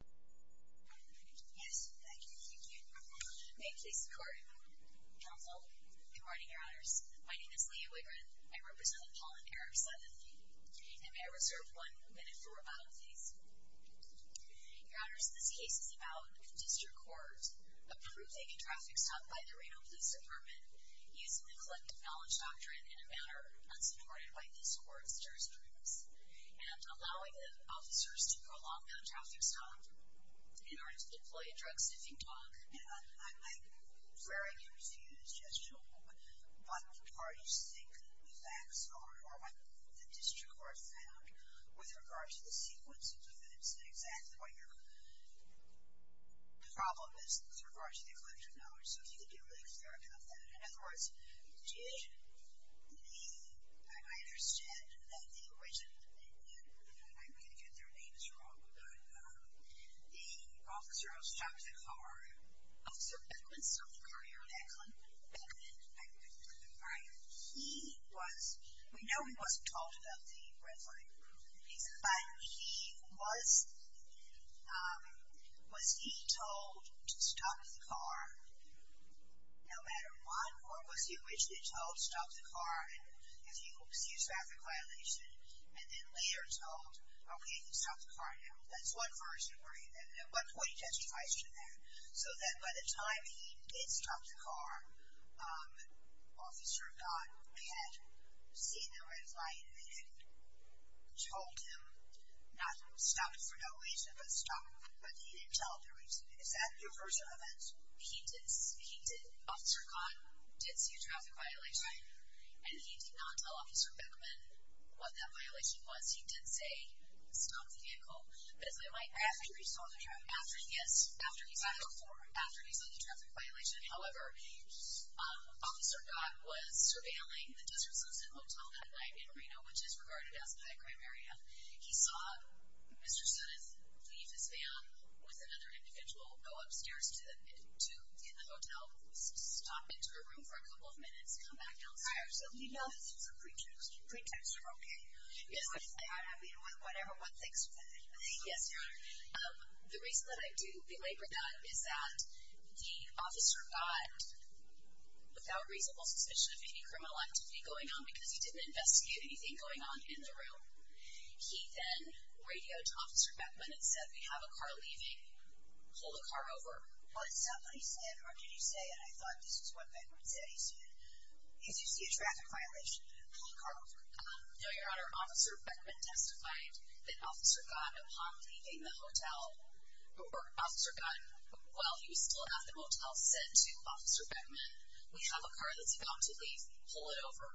Yes, thank you. Thank you. May it please the Court. Counsel. Good morning, Your Honors. My name is Leah Wigrin. I represent the Paul and Eric Sudduth. And may I reserve one minute for rebuttal, please? Your Honors, this case is about District Courts approving a traffic stop by the Reno Police Department using the collective knowledge doctrine in a manner unsupported by this Court's jurisprudence and allowing the officers to prolong the traffic stop in order to deploy a drug sniffing dog. I'm very confused as to what part you think the facts are or what the District Court found with regard to the sequence of events and exactly what your problem is with regard to the collective knowledge. So if you could be really clear about that. In other words, did the, I understand that the original, and I'm going to get their names wrong, but the officer who stopped the car. Officer Beckman stopped the car, Your Honor. Beckman? Beckman. Beckman. He was, we know he wasn't told about the red light, but he was, was he told to stop the car no matter what? Or was he originally told stop the car if you see a traffic violation, and then later told, okay, you can stop the car now? That's one version. There are about 20 testifies to that. So that by the time he did stop the car, Officer Codd had seen the red light and had told him not stop for no reason, but stop. But he didn't tell the reason. Is that your version of it? He did. He did. Officer Codd did see a traffic violation. Right. And he did not tell Officer Beckman what that violation was. He did say stop the vehicle. After he saw the traffic violation. Yes, after he saw the traffic violation. However, Officer Codd was surveilling the Desert Susan Hotel that night in Reno, which is regarded as a high crime area. He saw Mr. Suttis leave his van with another individual, go upstairs to the hotel, stop into a room for a couple of minutes, come back downstairs. So you know this was a pretext for, okay, whatever, what things. Yes. The reason that I do belabor that is that the Officer Codd, without reasonable suspicion of any criminal activity going on, because he didn't investigate anything going on in the room, he then radioed Officer Beckman and said, we have a car leaving, pull the car over. Was that what he said or did he say it? I thought this is what Beckman said. He said, did you see a traffic violation? Pull the car over. No, Your Honor. Your Honor, Officer Beckman testified that Officer Codd, upon leaving the hotel, or Officer Codd, while he was still at the motel, said to Officer Beckman, we have a car that's about to leave, pull it over.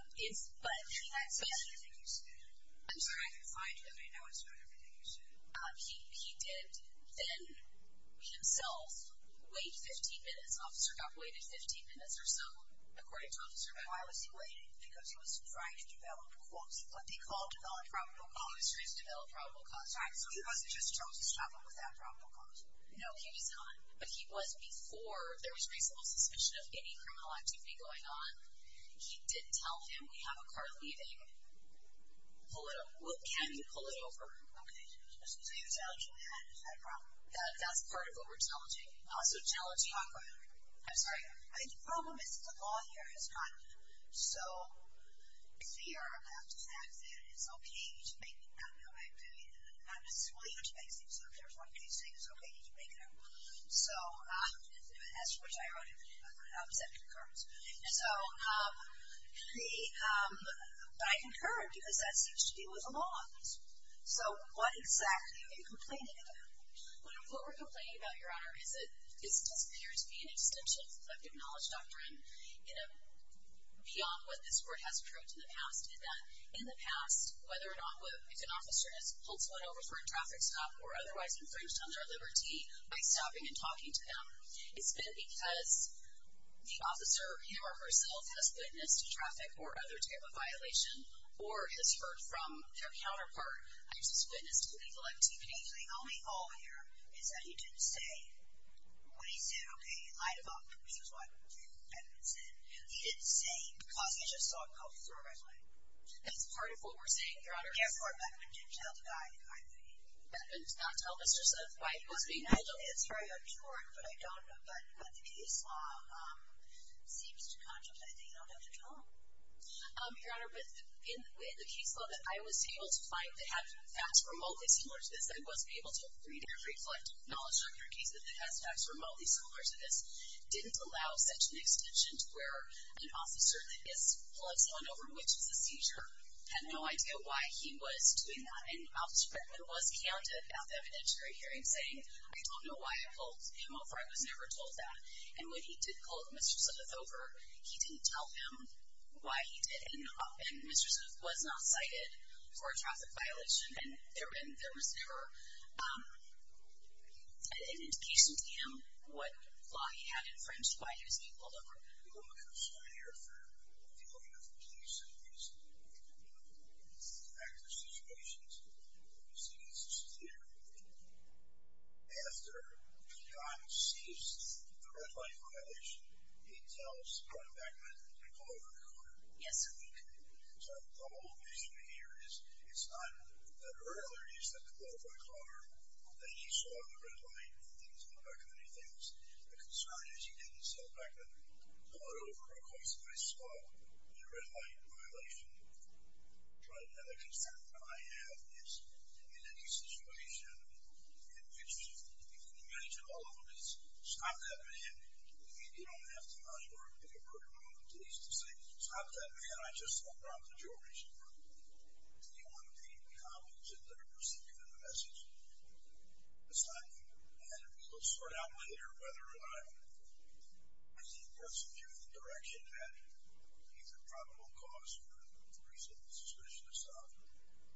I'm sorry, I didn't find it. I know it's not everything you said. He did then himself wait 15 minutes. Officer Codd waited 15 minutes or so, according to Officer Beckman. Why was he waiting? Because he was trying to develop, quote, what they call develop probable cause. He was trying to develop probable cause. Right. So he wasn't just trying to struggle with that probable cause. No, he was not. But he was before there was reasonable suspicion of any criminal activity going on. He didn't tell him, we have a car leaving, pull it over. Can you pull it over? Okay. So you're telling him that is a problem? That's part of what we're telling him. So you're telling him, I'm sorry. The problem is the law here is not so clear about the fact that it's okay to make an activity that's not necessarily intimacy. So if there's one case, it's okay to make it. So, as to which I wrote, it said concurrence. But I concur because that seems to deal with the law. So what exactly are you complaining about? What we're complaining about, Your Honor, is it appears to be an extension of the collective knowledge doctrine beyond what this Court has proved in the past, in that in the past, whether or not if an officer has pulled someone over for a traffic stop or otherwise infringed on their liberty by stopping and talking to them, it's been because the officer, him or herself, has witnessed a traffic or other type of violation or has heard from their counterpart, has witnessed illegal activity. The only hole here is that he didn't say, when he said, okay, light him up, which is what Beckman said, he didn't say because he just saw a cop throw a gun at him. That's part of what we're saying, Your Honor. Yes, or Beckman didn't tell the guy who fired the gun. Beckman did not tell Mr. Smith why he was being held. It's very absurd, but I don't know. But the case law seems to contemplate that you don't have to tell him. Your Honor, but in the case law that I was able to find, that had facts remotely similar to this, I was able to read and reflect knowledge from your case that has facts remotely similar to this, didn't allow such an extension to where an officer that gets pulled over, which is a seizure, had no idea why he was doing that. And Officer Beckman was candid at the evidentiary hearing saying, I don't know why I pulled him over. I was never told that. And when he did pull Mr. Smith over, he didn't tell him why he did it. And Mr. Smith was not cited for a traffic violation, and there was never an indication to him what law he had in front of him, why he was being pulled over. I'm a consulting lawyer for the Oregon Police, and recently I've been involved in this type of situation, and what we've seen is it's a theater movie. After the gun ceases, the red light violation, he tells our Beckman to pull over in the corner. Yes, sir. So the whole reason here is it's not that earlier he said to pull over in the corner, that he saw the red light and things, but Beckman, he thinks the concern is he didn't see Beckman pull it over because he saw the red light violation. Try to have the concern that I have is in any situation, you can imagine all of them is stop that man. You don't have to know your Oregon Police to say, stop that man. I just dropped the jewelry, sir. Do you want the cops that are receiving the message to stop you? And let's find out later whether or not he's in the direction that he's a probable cause for the recent suspicion to stop him.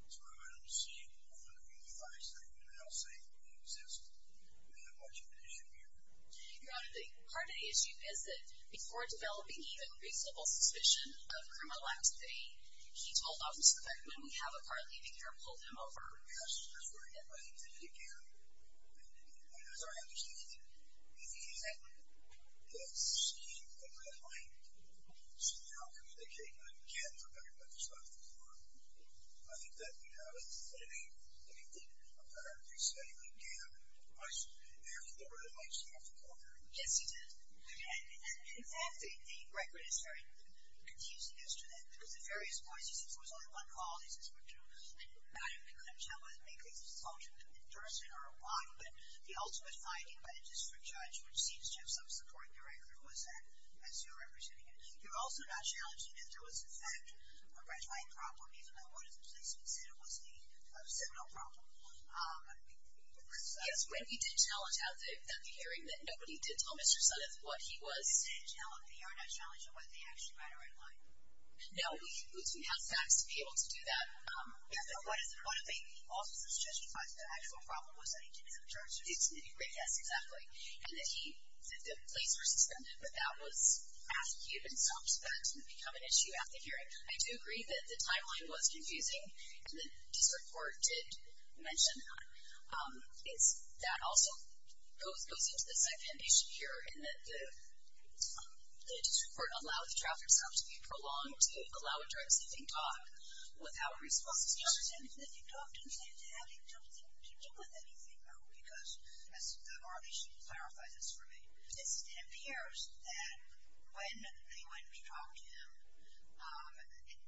So I don't see one of you guys that you can now say exists and have much of an issue here. Your Honor, the heart of the issue is that before developing even reasonable suspicion of criminal activity, he told Officer Beckman, we have a car leaving here, pull him over. Yes, that's right. I think that he can. As I understand it, he has seen the red light, so now communicating with him again for Beckman to stop the car, I think that we have a better reason that he can. Your Honor, I have a question. Do you know if he really actually left the car? Yes, he did. And in fact, the record is very confusing as to that because at various points he says there was only one call, he says we're due. And I don't know how much that was, maybe it's a function of an interest or a why, but the ultimate finding by the district judge, which seems to have some support in the record, was that as you're representing it, you're also not challenging that there was, in fact, a gratifying problem, even though one of the policemen said it was a criminal problem. Yes, when we did tell at the hearing that nobody did tell Mr. Suttoth what he was. They are not challenged on whether they actually ran a red light. No, we have facts to be able to do that. Yes, but what if he also suggested that the actual problem was that he didn't have a driver's license? Yes, exactly. And that the police were suspended, but that was after he had been stopped, so that didn't become an issue at the hearing. I do agree that the timeline was confusing, and the district court did mention that. That also goes into the second issue here, in that the district court allowed the traffic stop to be prolonged to allow a driver's license being talked without a response. Well, the driver's license being talked didn't seem to have anything to do with anything, though, because, as Margie should clarify this for me, it appears that when we talked to him,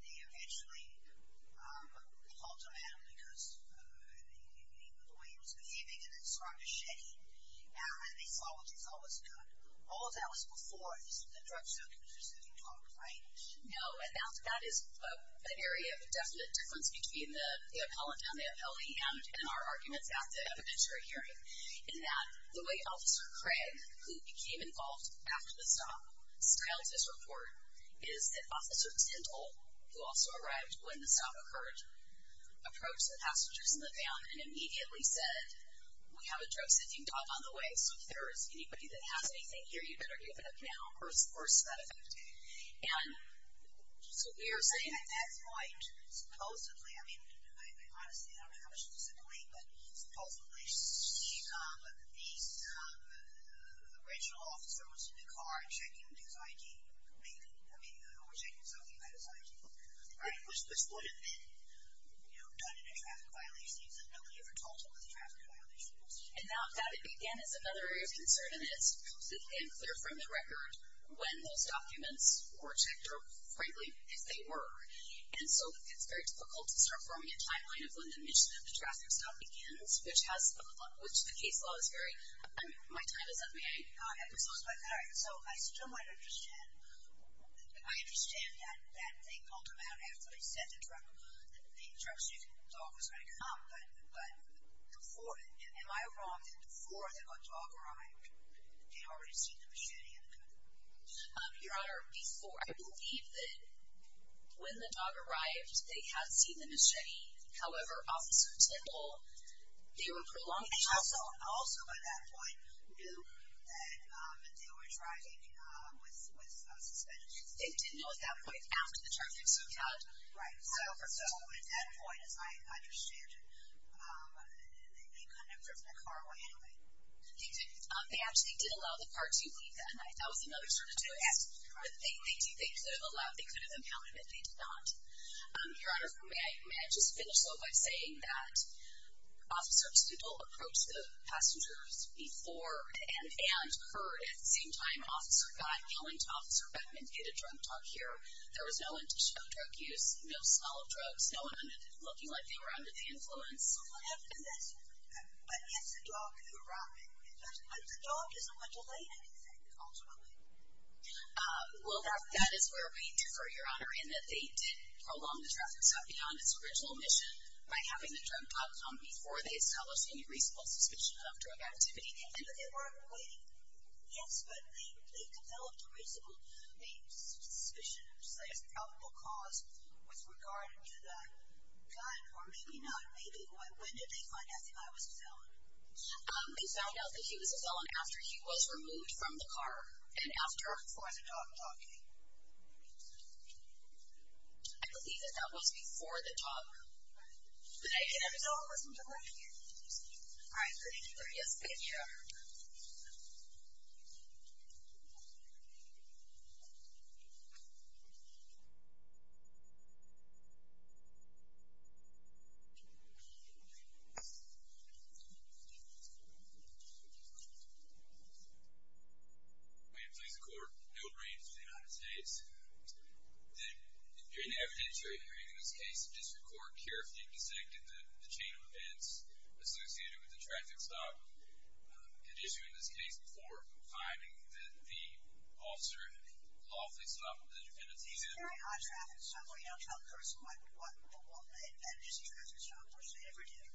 they eventually called him out because of the way he was behaving and it struck a shedding, and they thought it was good. All of that was before the drug circumstances that you talked about. No, and that is an area of definite difference between the appellant and the appellee and our arguments at the evidentiary hearing, in that the way Officer Craig, who became involved after the stop, scaled this report, is that Officer Tyndall, who also arrived when the stop occurred, approached the passengers in the van and immediately said, we have a drug-sensing dog on the way, so if there is anybody that has anything here, you better give it up now, or it's to that effect. And so we are saying at that point, supposedly, I mean, honestly, I don't know how much to disappoint, but supposedly, the original officer was in the car checking his I.G. I mean, or checking something that is I.G. This wouldn't have been done in a traffic violation case if nobody had ever talked about the traffic violations. And now that it began is another area of concern, and it's unclear from the record when those documents were checked, or frankly, if they were. And so it's very difficult to start forming a timeline of when the admission of the traffic stop begins, which the case law is very... My time is up, may I have a close-up? All right. So I still might understand, I understand that they called him out after they said the drug-sensing dog was going to come, but before, am I wrong that before the dog arrived, they had already seen the machete in the car? Your Honor, before. I believe that when the dog arrived, they had seen the machete. However, Officer Tittle, they were prolonged... Also, by that point, knew that they were driving with suspensions. They didn't know at that point after the traffic stopped? Right. So at that point, as I understand it, they couldn't have driven the car away anyway. They actually did allow the car to leave that night. That was another turn of events. They could have allowed, they could have impounded, but they did not. Your Honor, may I just finish by saying that Officer Tittle approached the passengers before and heard, at the same time, Officer got going to Officer Beckman to get a drug talk here. There was no one to show drug use, no smell of drugs, no one looking like they were under the influence. But if the dog could arrive, but the dog doesn't want to lay anything, ultimately. Well, that is where we differ, Your Honor, in that they did prolong the traffic stop beyond its original mission by having the drug talk come before they established any reasonable suspicion of drug activity. But they weren't waiting. Yes, but they developed a reasonable suspicion of probable cause with regard to the gun, or maybe not, maybe. When did they find out that I was a felon? They found out that he was a felon after he was removed from the car and after the dog talking. I believe that that was before the talk. Did I get it? No, it wasn't before. All right. Thank you. Yes, ma'am. Yes, Your Honor. Thank you. May it please the Court. Bill Green from the United States. During the evidence you're hearing in this case, the district court carefully dissected the chain of events associated with the traffic stop at issue in this case before finding that the officer lawfully stopped the defendants. Is there an odd traffic stop where you don't tell the person what a missing traffic stop person ever did?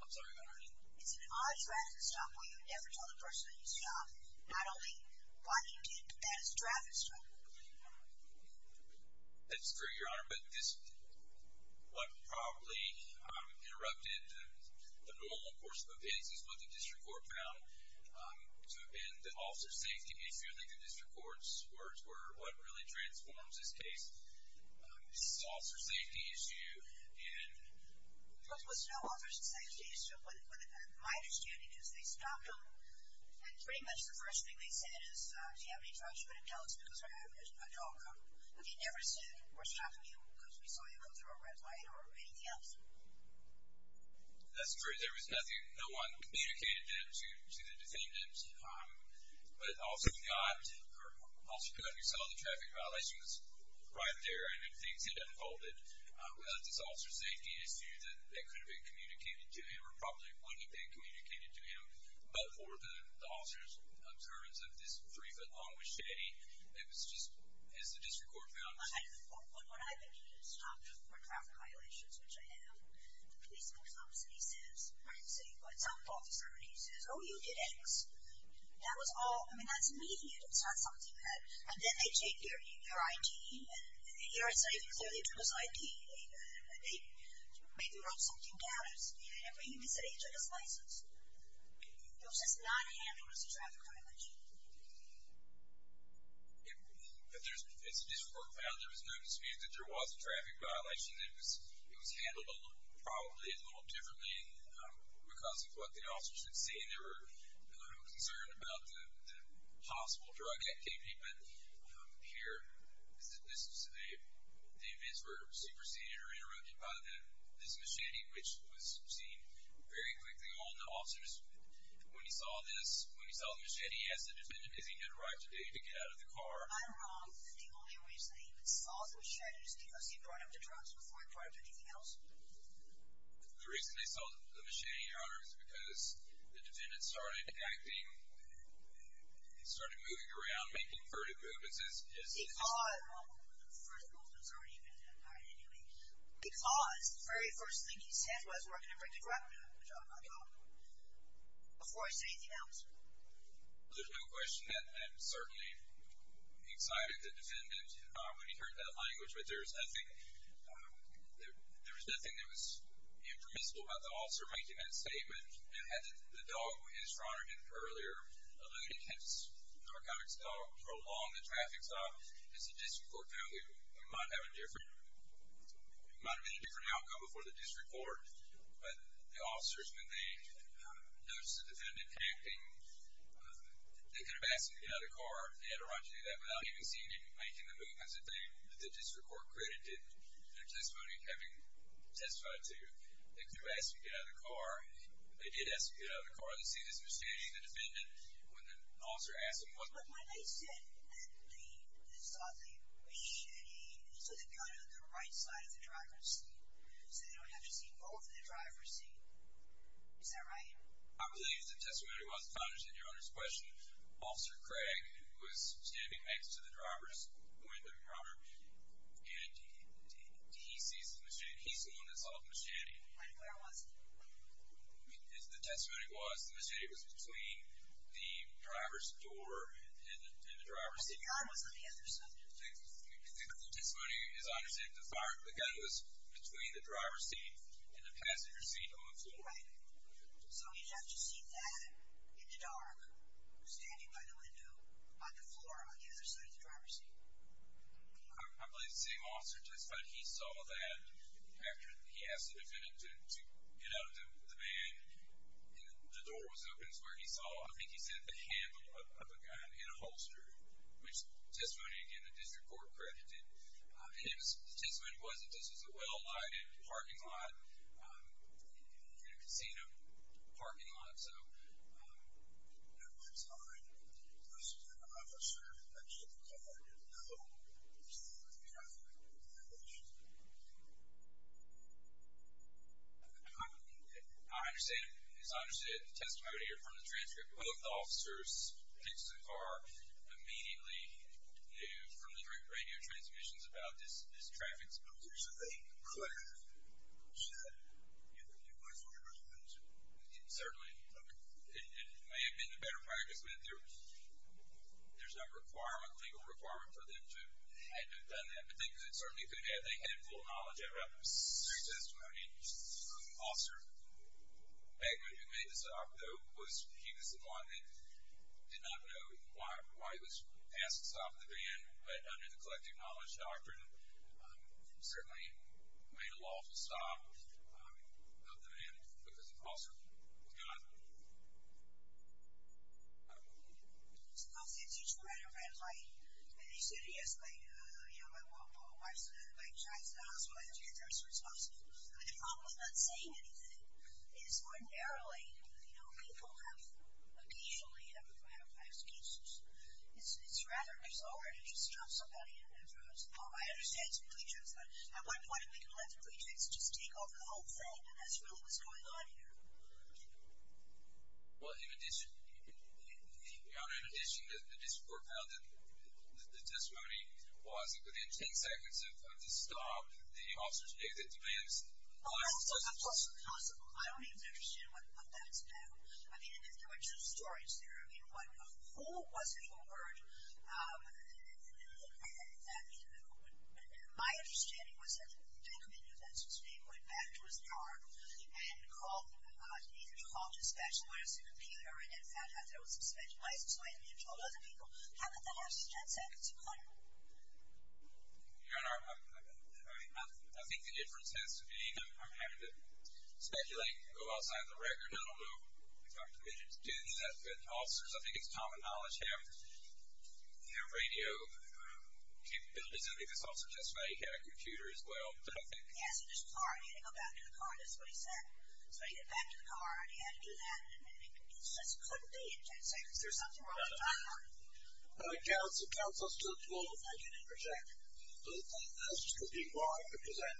I'm sorry, Your Honor. Is there an odd traffic stop where you never tell the person that you stopped not only what you did, but that it's a traffic stop? That's true, Your Honor, but this what probably interrupted the normal course of events is what the district court found to have been the officer safety issue. I think the district court's words were what really transforms this case. This is an officer safety issue. It was no officer safety issue. My understanding is they stopped him, and pretty much the first thing they said is, do you have any trucks you want to tell us because we're having a dog come? Have you never seen or stopped him because we saw him go through a red light or anything else? That's true. There was nothing. No one communicated that to the defendants, but also you saw the traffic violations right there, and then things had unfolded. We had this officer safety issue that could have been communicated to him or probably wouldn't have been communicated to him, but for the officer's terms of this three-foot-long machete, it was just as the district court found it. What I think he had stopped were traffic violations, which I have. The police force officer, he says, the city public safety officer, and he says, oh, you did X. That was all, I mean, that's immediate. It's not something that, and then they take your ID, and he already said he was there. They took his ID. They maybe wrote something down. He didn't even say he took his license. It was just not handled as a traffic violation. As the district court found, there was no dispute that there was a traffic violation. It was handled probably a little differently because of what the officers had seen. They were a little concerned about the possible drug activity, but here, the evidence were superseded or interrupted by this machete, which was seen very quickly on the officers. When he saw this, when he saw the machete, he asked the defendant if he could arrive today to get out of the car. I'm wrong. Didn't he always say he saw the machete just because he brought up the drugs before he brought up anything else? The reason he saw the machete, Your Honor, is because the defendant started acting, started moving around, making furtive movements. He saw it. Well, the furtive movement has already been implied anyway. Because the very first thing he said was, where can I bring the drug? Before I say anything else. There's no question that certainly excited the defendant when he heard that language, but there was nothing. There was nothing that was impermissible about the officer making that statement. And had the dog, as Your Honor did earlier, a loaded narcotics dog prolong the traffic stop, as the district court found, it might have been a different outcome before the district court. But the officers, when they noticed the defendant acting, they could have asked him to get out of the car. They had a right to do that without even seeing him making the movements that the district court credited their testimony having testified to. They could have asked him to get out of the car. They did ask him to get out of the car. They see this misdemeanor, the defendant, when the officer asked him. But when they said that they saw the machete, so they put it on the right side of the driver's seat, so they don't have to see both of the driver's seat. Is that right? I believe the testimony was, if I understand Your Honor's question, Officer Craig was standing next to the driver's window, and he sees the machete. He's the one that saw the machete. And where was it? The testimony was the machete was between the driver's door and the driver's seat. But the gun was on the other side. The testimony, as I understand it, the gun was between the driver's seat and the passenger seat on the floor. Right. So he'd have to see that in the dark, standing by the window on the floor on the other side of the driver's seat. I believe the same officer testified he saw that after he asked the defendant to get out of the van, and the door was open is where he saw, I think he said, the handle of a gun in a holster, which testimony, again, the district court credited. His testimony was that this was a well-lighted parking lot, in a casino parking lot. So at one time, this is an officer that should have been caught in the middle of a traffic violation. I understand it. As I understand it, the testimony here from the transcript, both officers picked the car, immediately knew from the radio transmissions about this traffic situation. They could have said, you know, you might as well have just been too. Certainly. Okay. It may have been a better practice, but there's no requirement, legal requirement for them to have done that. But they certainly could have. They had full knowledge of it. Their testimony. The officer back when he made the stop, though, he was the one that did not know why he was asked to stop the van, but under the collective knowledge doctrine, certainly made a lawful stop of the van because the officer was gone. Okay. So the officers used the red and red light, and they said, yes, my wife's in the hospital, I have to get there as soon as possible. They're probably not saying anything. It's ordinarily, you know, people have occasionally had a lot of last cases. It's rather disordered if you stop somebody in their driveway. I understand it's a pretext, but at what point are we going to let the pretext just take over the whole thing and that's really what's going on here? Well, in addition, Your Honor, in addition to the discord about the testimony, was it within ten seconds of the stop, the officers knew that the van was. Well, that's also possible. I don't even understand what that's about. I mean, there were two stories there. I mean, who was it who heard. My understanding was that they knew that so they went back to his yard and called, either called his specialist, appealed to her and found out there was some speculation, so they told other people, how about the last ten seconds? Your Honor, I think the difference has to be I'm having to speculate and go outside the record. I don't know if I'm doing that good to officers. I think it's common knowledge to have. You know, radio capabilities, I think it's also justified he had a computer as well. Yeah, so this car, he had to go back to the car, that's what he said. So he got back to the car and he had to do that and it just couldn't be in ten seconds. There was something wrong with the timer. Well, it counts as close to 12 if I can interject, but that's just a big lie because I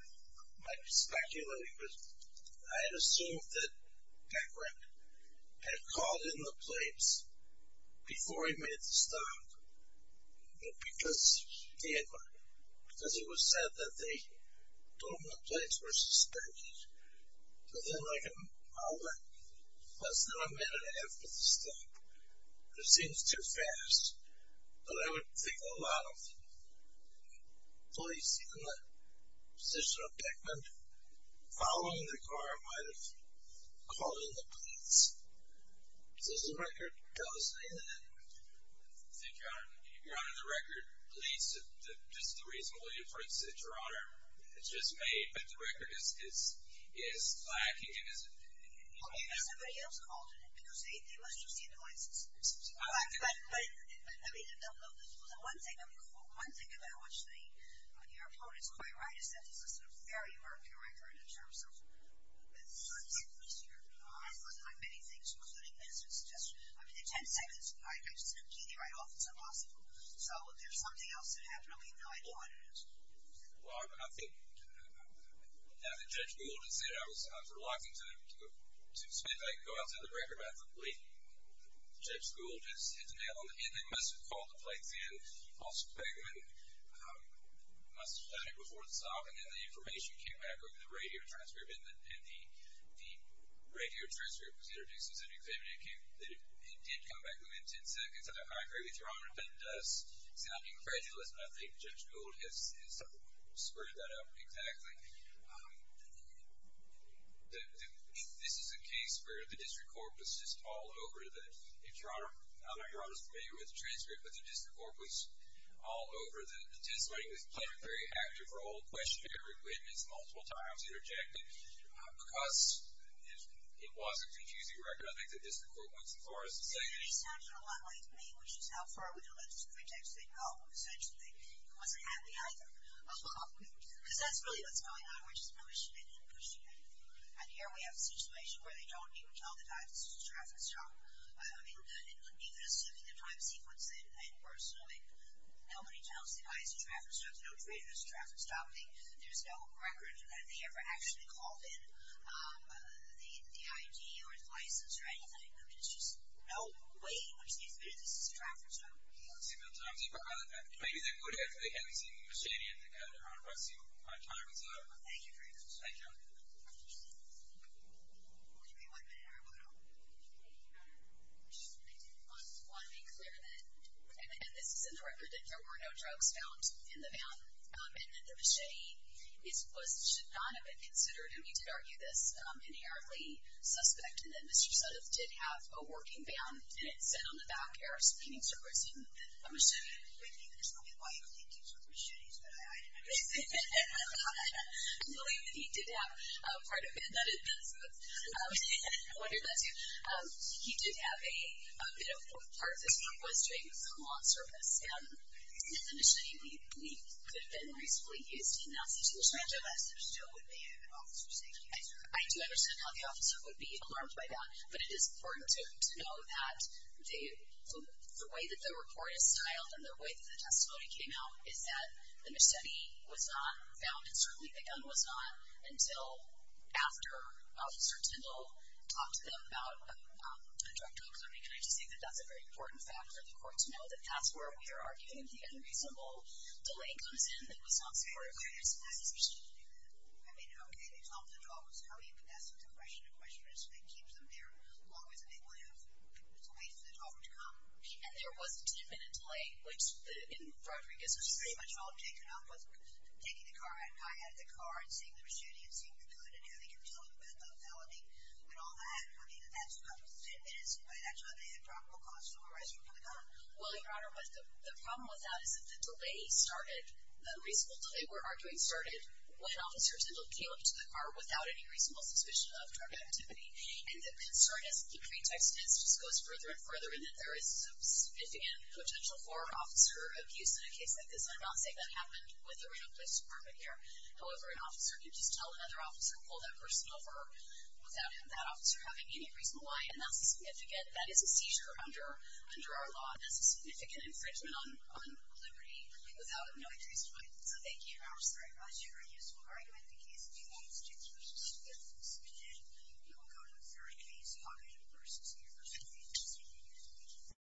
might be speculating, but I had assumed that Decker had called in the plates before he made the stop, but because it was said that they told him the plates were suspended within like an hour, less than a minute after the stop. It seems too fast, but I would think a lot of police in the position of Beckman following the car might have called in the plates. Does the record tell us anything? Your Honor, the record leads to just the reasonable inference that, Your Honor, it's just made, but the record is lacking. Well, maybe somebody else called in it because they must have seen the license plates. I mean, one thing about what your opponent is quite right is that this is a very murky record in terms of the circumstances here. I've looked at many things, including this. It's just, I mean, in 10 seconds, I just didn't pee the right off. It's impossible. So there's something else that happened. I mean, no idea what it is. Well, I think now that Judge Gould has said it, I was reluctant to suspend. I could go out to the record, but I thought, wait. Judge Gould just hit the nail on the head. They must have called the plates in. Officer Beckman must have done it before the stop, and then the information came back over the radio transcript, and the radio transcript was introduced as an exhibit, and it did come back within 10 seconds. I agree with Your Honor, it does sound incredulous, but I think Judge Gould has spurred that up exactly. This is a case where the district court was just all over it. I don't know if Your Honor is familiar with the transcript, but the district court was all over the testimony. It played a very active role, questioned every witness multiple times, interjected, because it was a confusing record. I think the district court went so far as to say that. It sounded a lot like me, which is how far we can let this pretext go. Essentially, it wasn't happening either. Because that's really what's going on. We're just pushing it and pushing it. And here we have a situation where they don't even tell the driver, this is a traffic stop. I mean, even assuming the time sequence, and we're assuming nobody tells the driver, this is a traffic stop, there's no driver, this is a traffic stop. There's no record that they ever actually called in the ID or the license or anything. I mean, there's just no way in which they've admitted this is a traffic stop. Maybe they would if they hadn't seen you standing there. Your Honor, my time is up. Thank you for your testimony. Thank you. We'll give you one minute, everyone. I just want to be clear that, and this is in the record, that there were no drugs found in the van, and that the machete should not have been considered, and we did argue this, inherently suspect, and that Mr. Sudduth did have a working van, and it said on the back there, I'm assuming you can explain why you think he was with machetes, but I don't know. I believe that he did have part of it. I wondered that too. He did have a, you know, part of his work was doing law service, and if the machete could have been reasonably used in that situation, I do understand how the officer would be alarmed by that, but it is important to know that the way that the report is styled and the way that the testimony came out is that the machete was not found, and certainly the gun was not, until after Officer Tyndall talked to them about a drug deal. Can I just say that that's a very important fact for the court to know, that that's where we are arguing the unreasonable delay comes in that was not supported by this investigation. I mean, okay, they talk to the officers. How are you going to ask them to question a question that keeps them there as long as they will have a place for the talker to come? And there was a 10-minute delay, which, in Rodriguez's case, was pretty much all taken up with taking the guy out of the car and seeing the machete and seeing the gun and having him talk about the felony and all that. I mean, that's about 10 minutes, and by that time they had probable cause to arrest him for the gun. Well, Your Honor, the problem with that is that the delay started, the reasonable delay we're arguing started when Officer Tyndall came up to the car without any reasonable suspicion of drug activity, and the concern, as the pretext is, just goes further and further in that there is a significant potential for an officer of use in a case like this. I'm not saying that happened with the Reno Police Department here. However, an officer could just tell another officer, pull that person over without that officer having any reason why, and that is a seizure under our law. That's a significant infringement on liberty without knowing the reason why. So thank you, Your Honor. I'm sorry if I was giving you a useful argument. In the case of New Orleans, James vs. Smith, we will go to a third case, Houghton vs. University of New York. Thank you.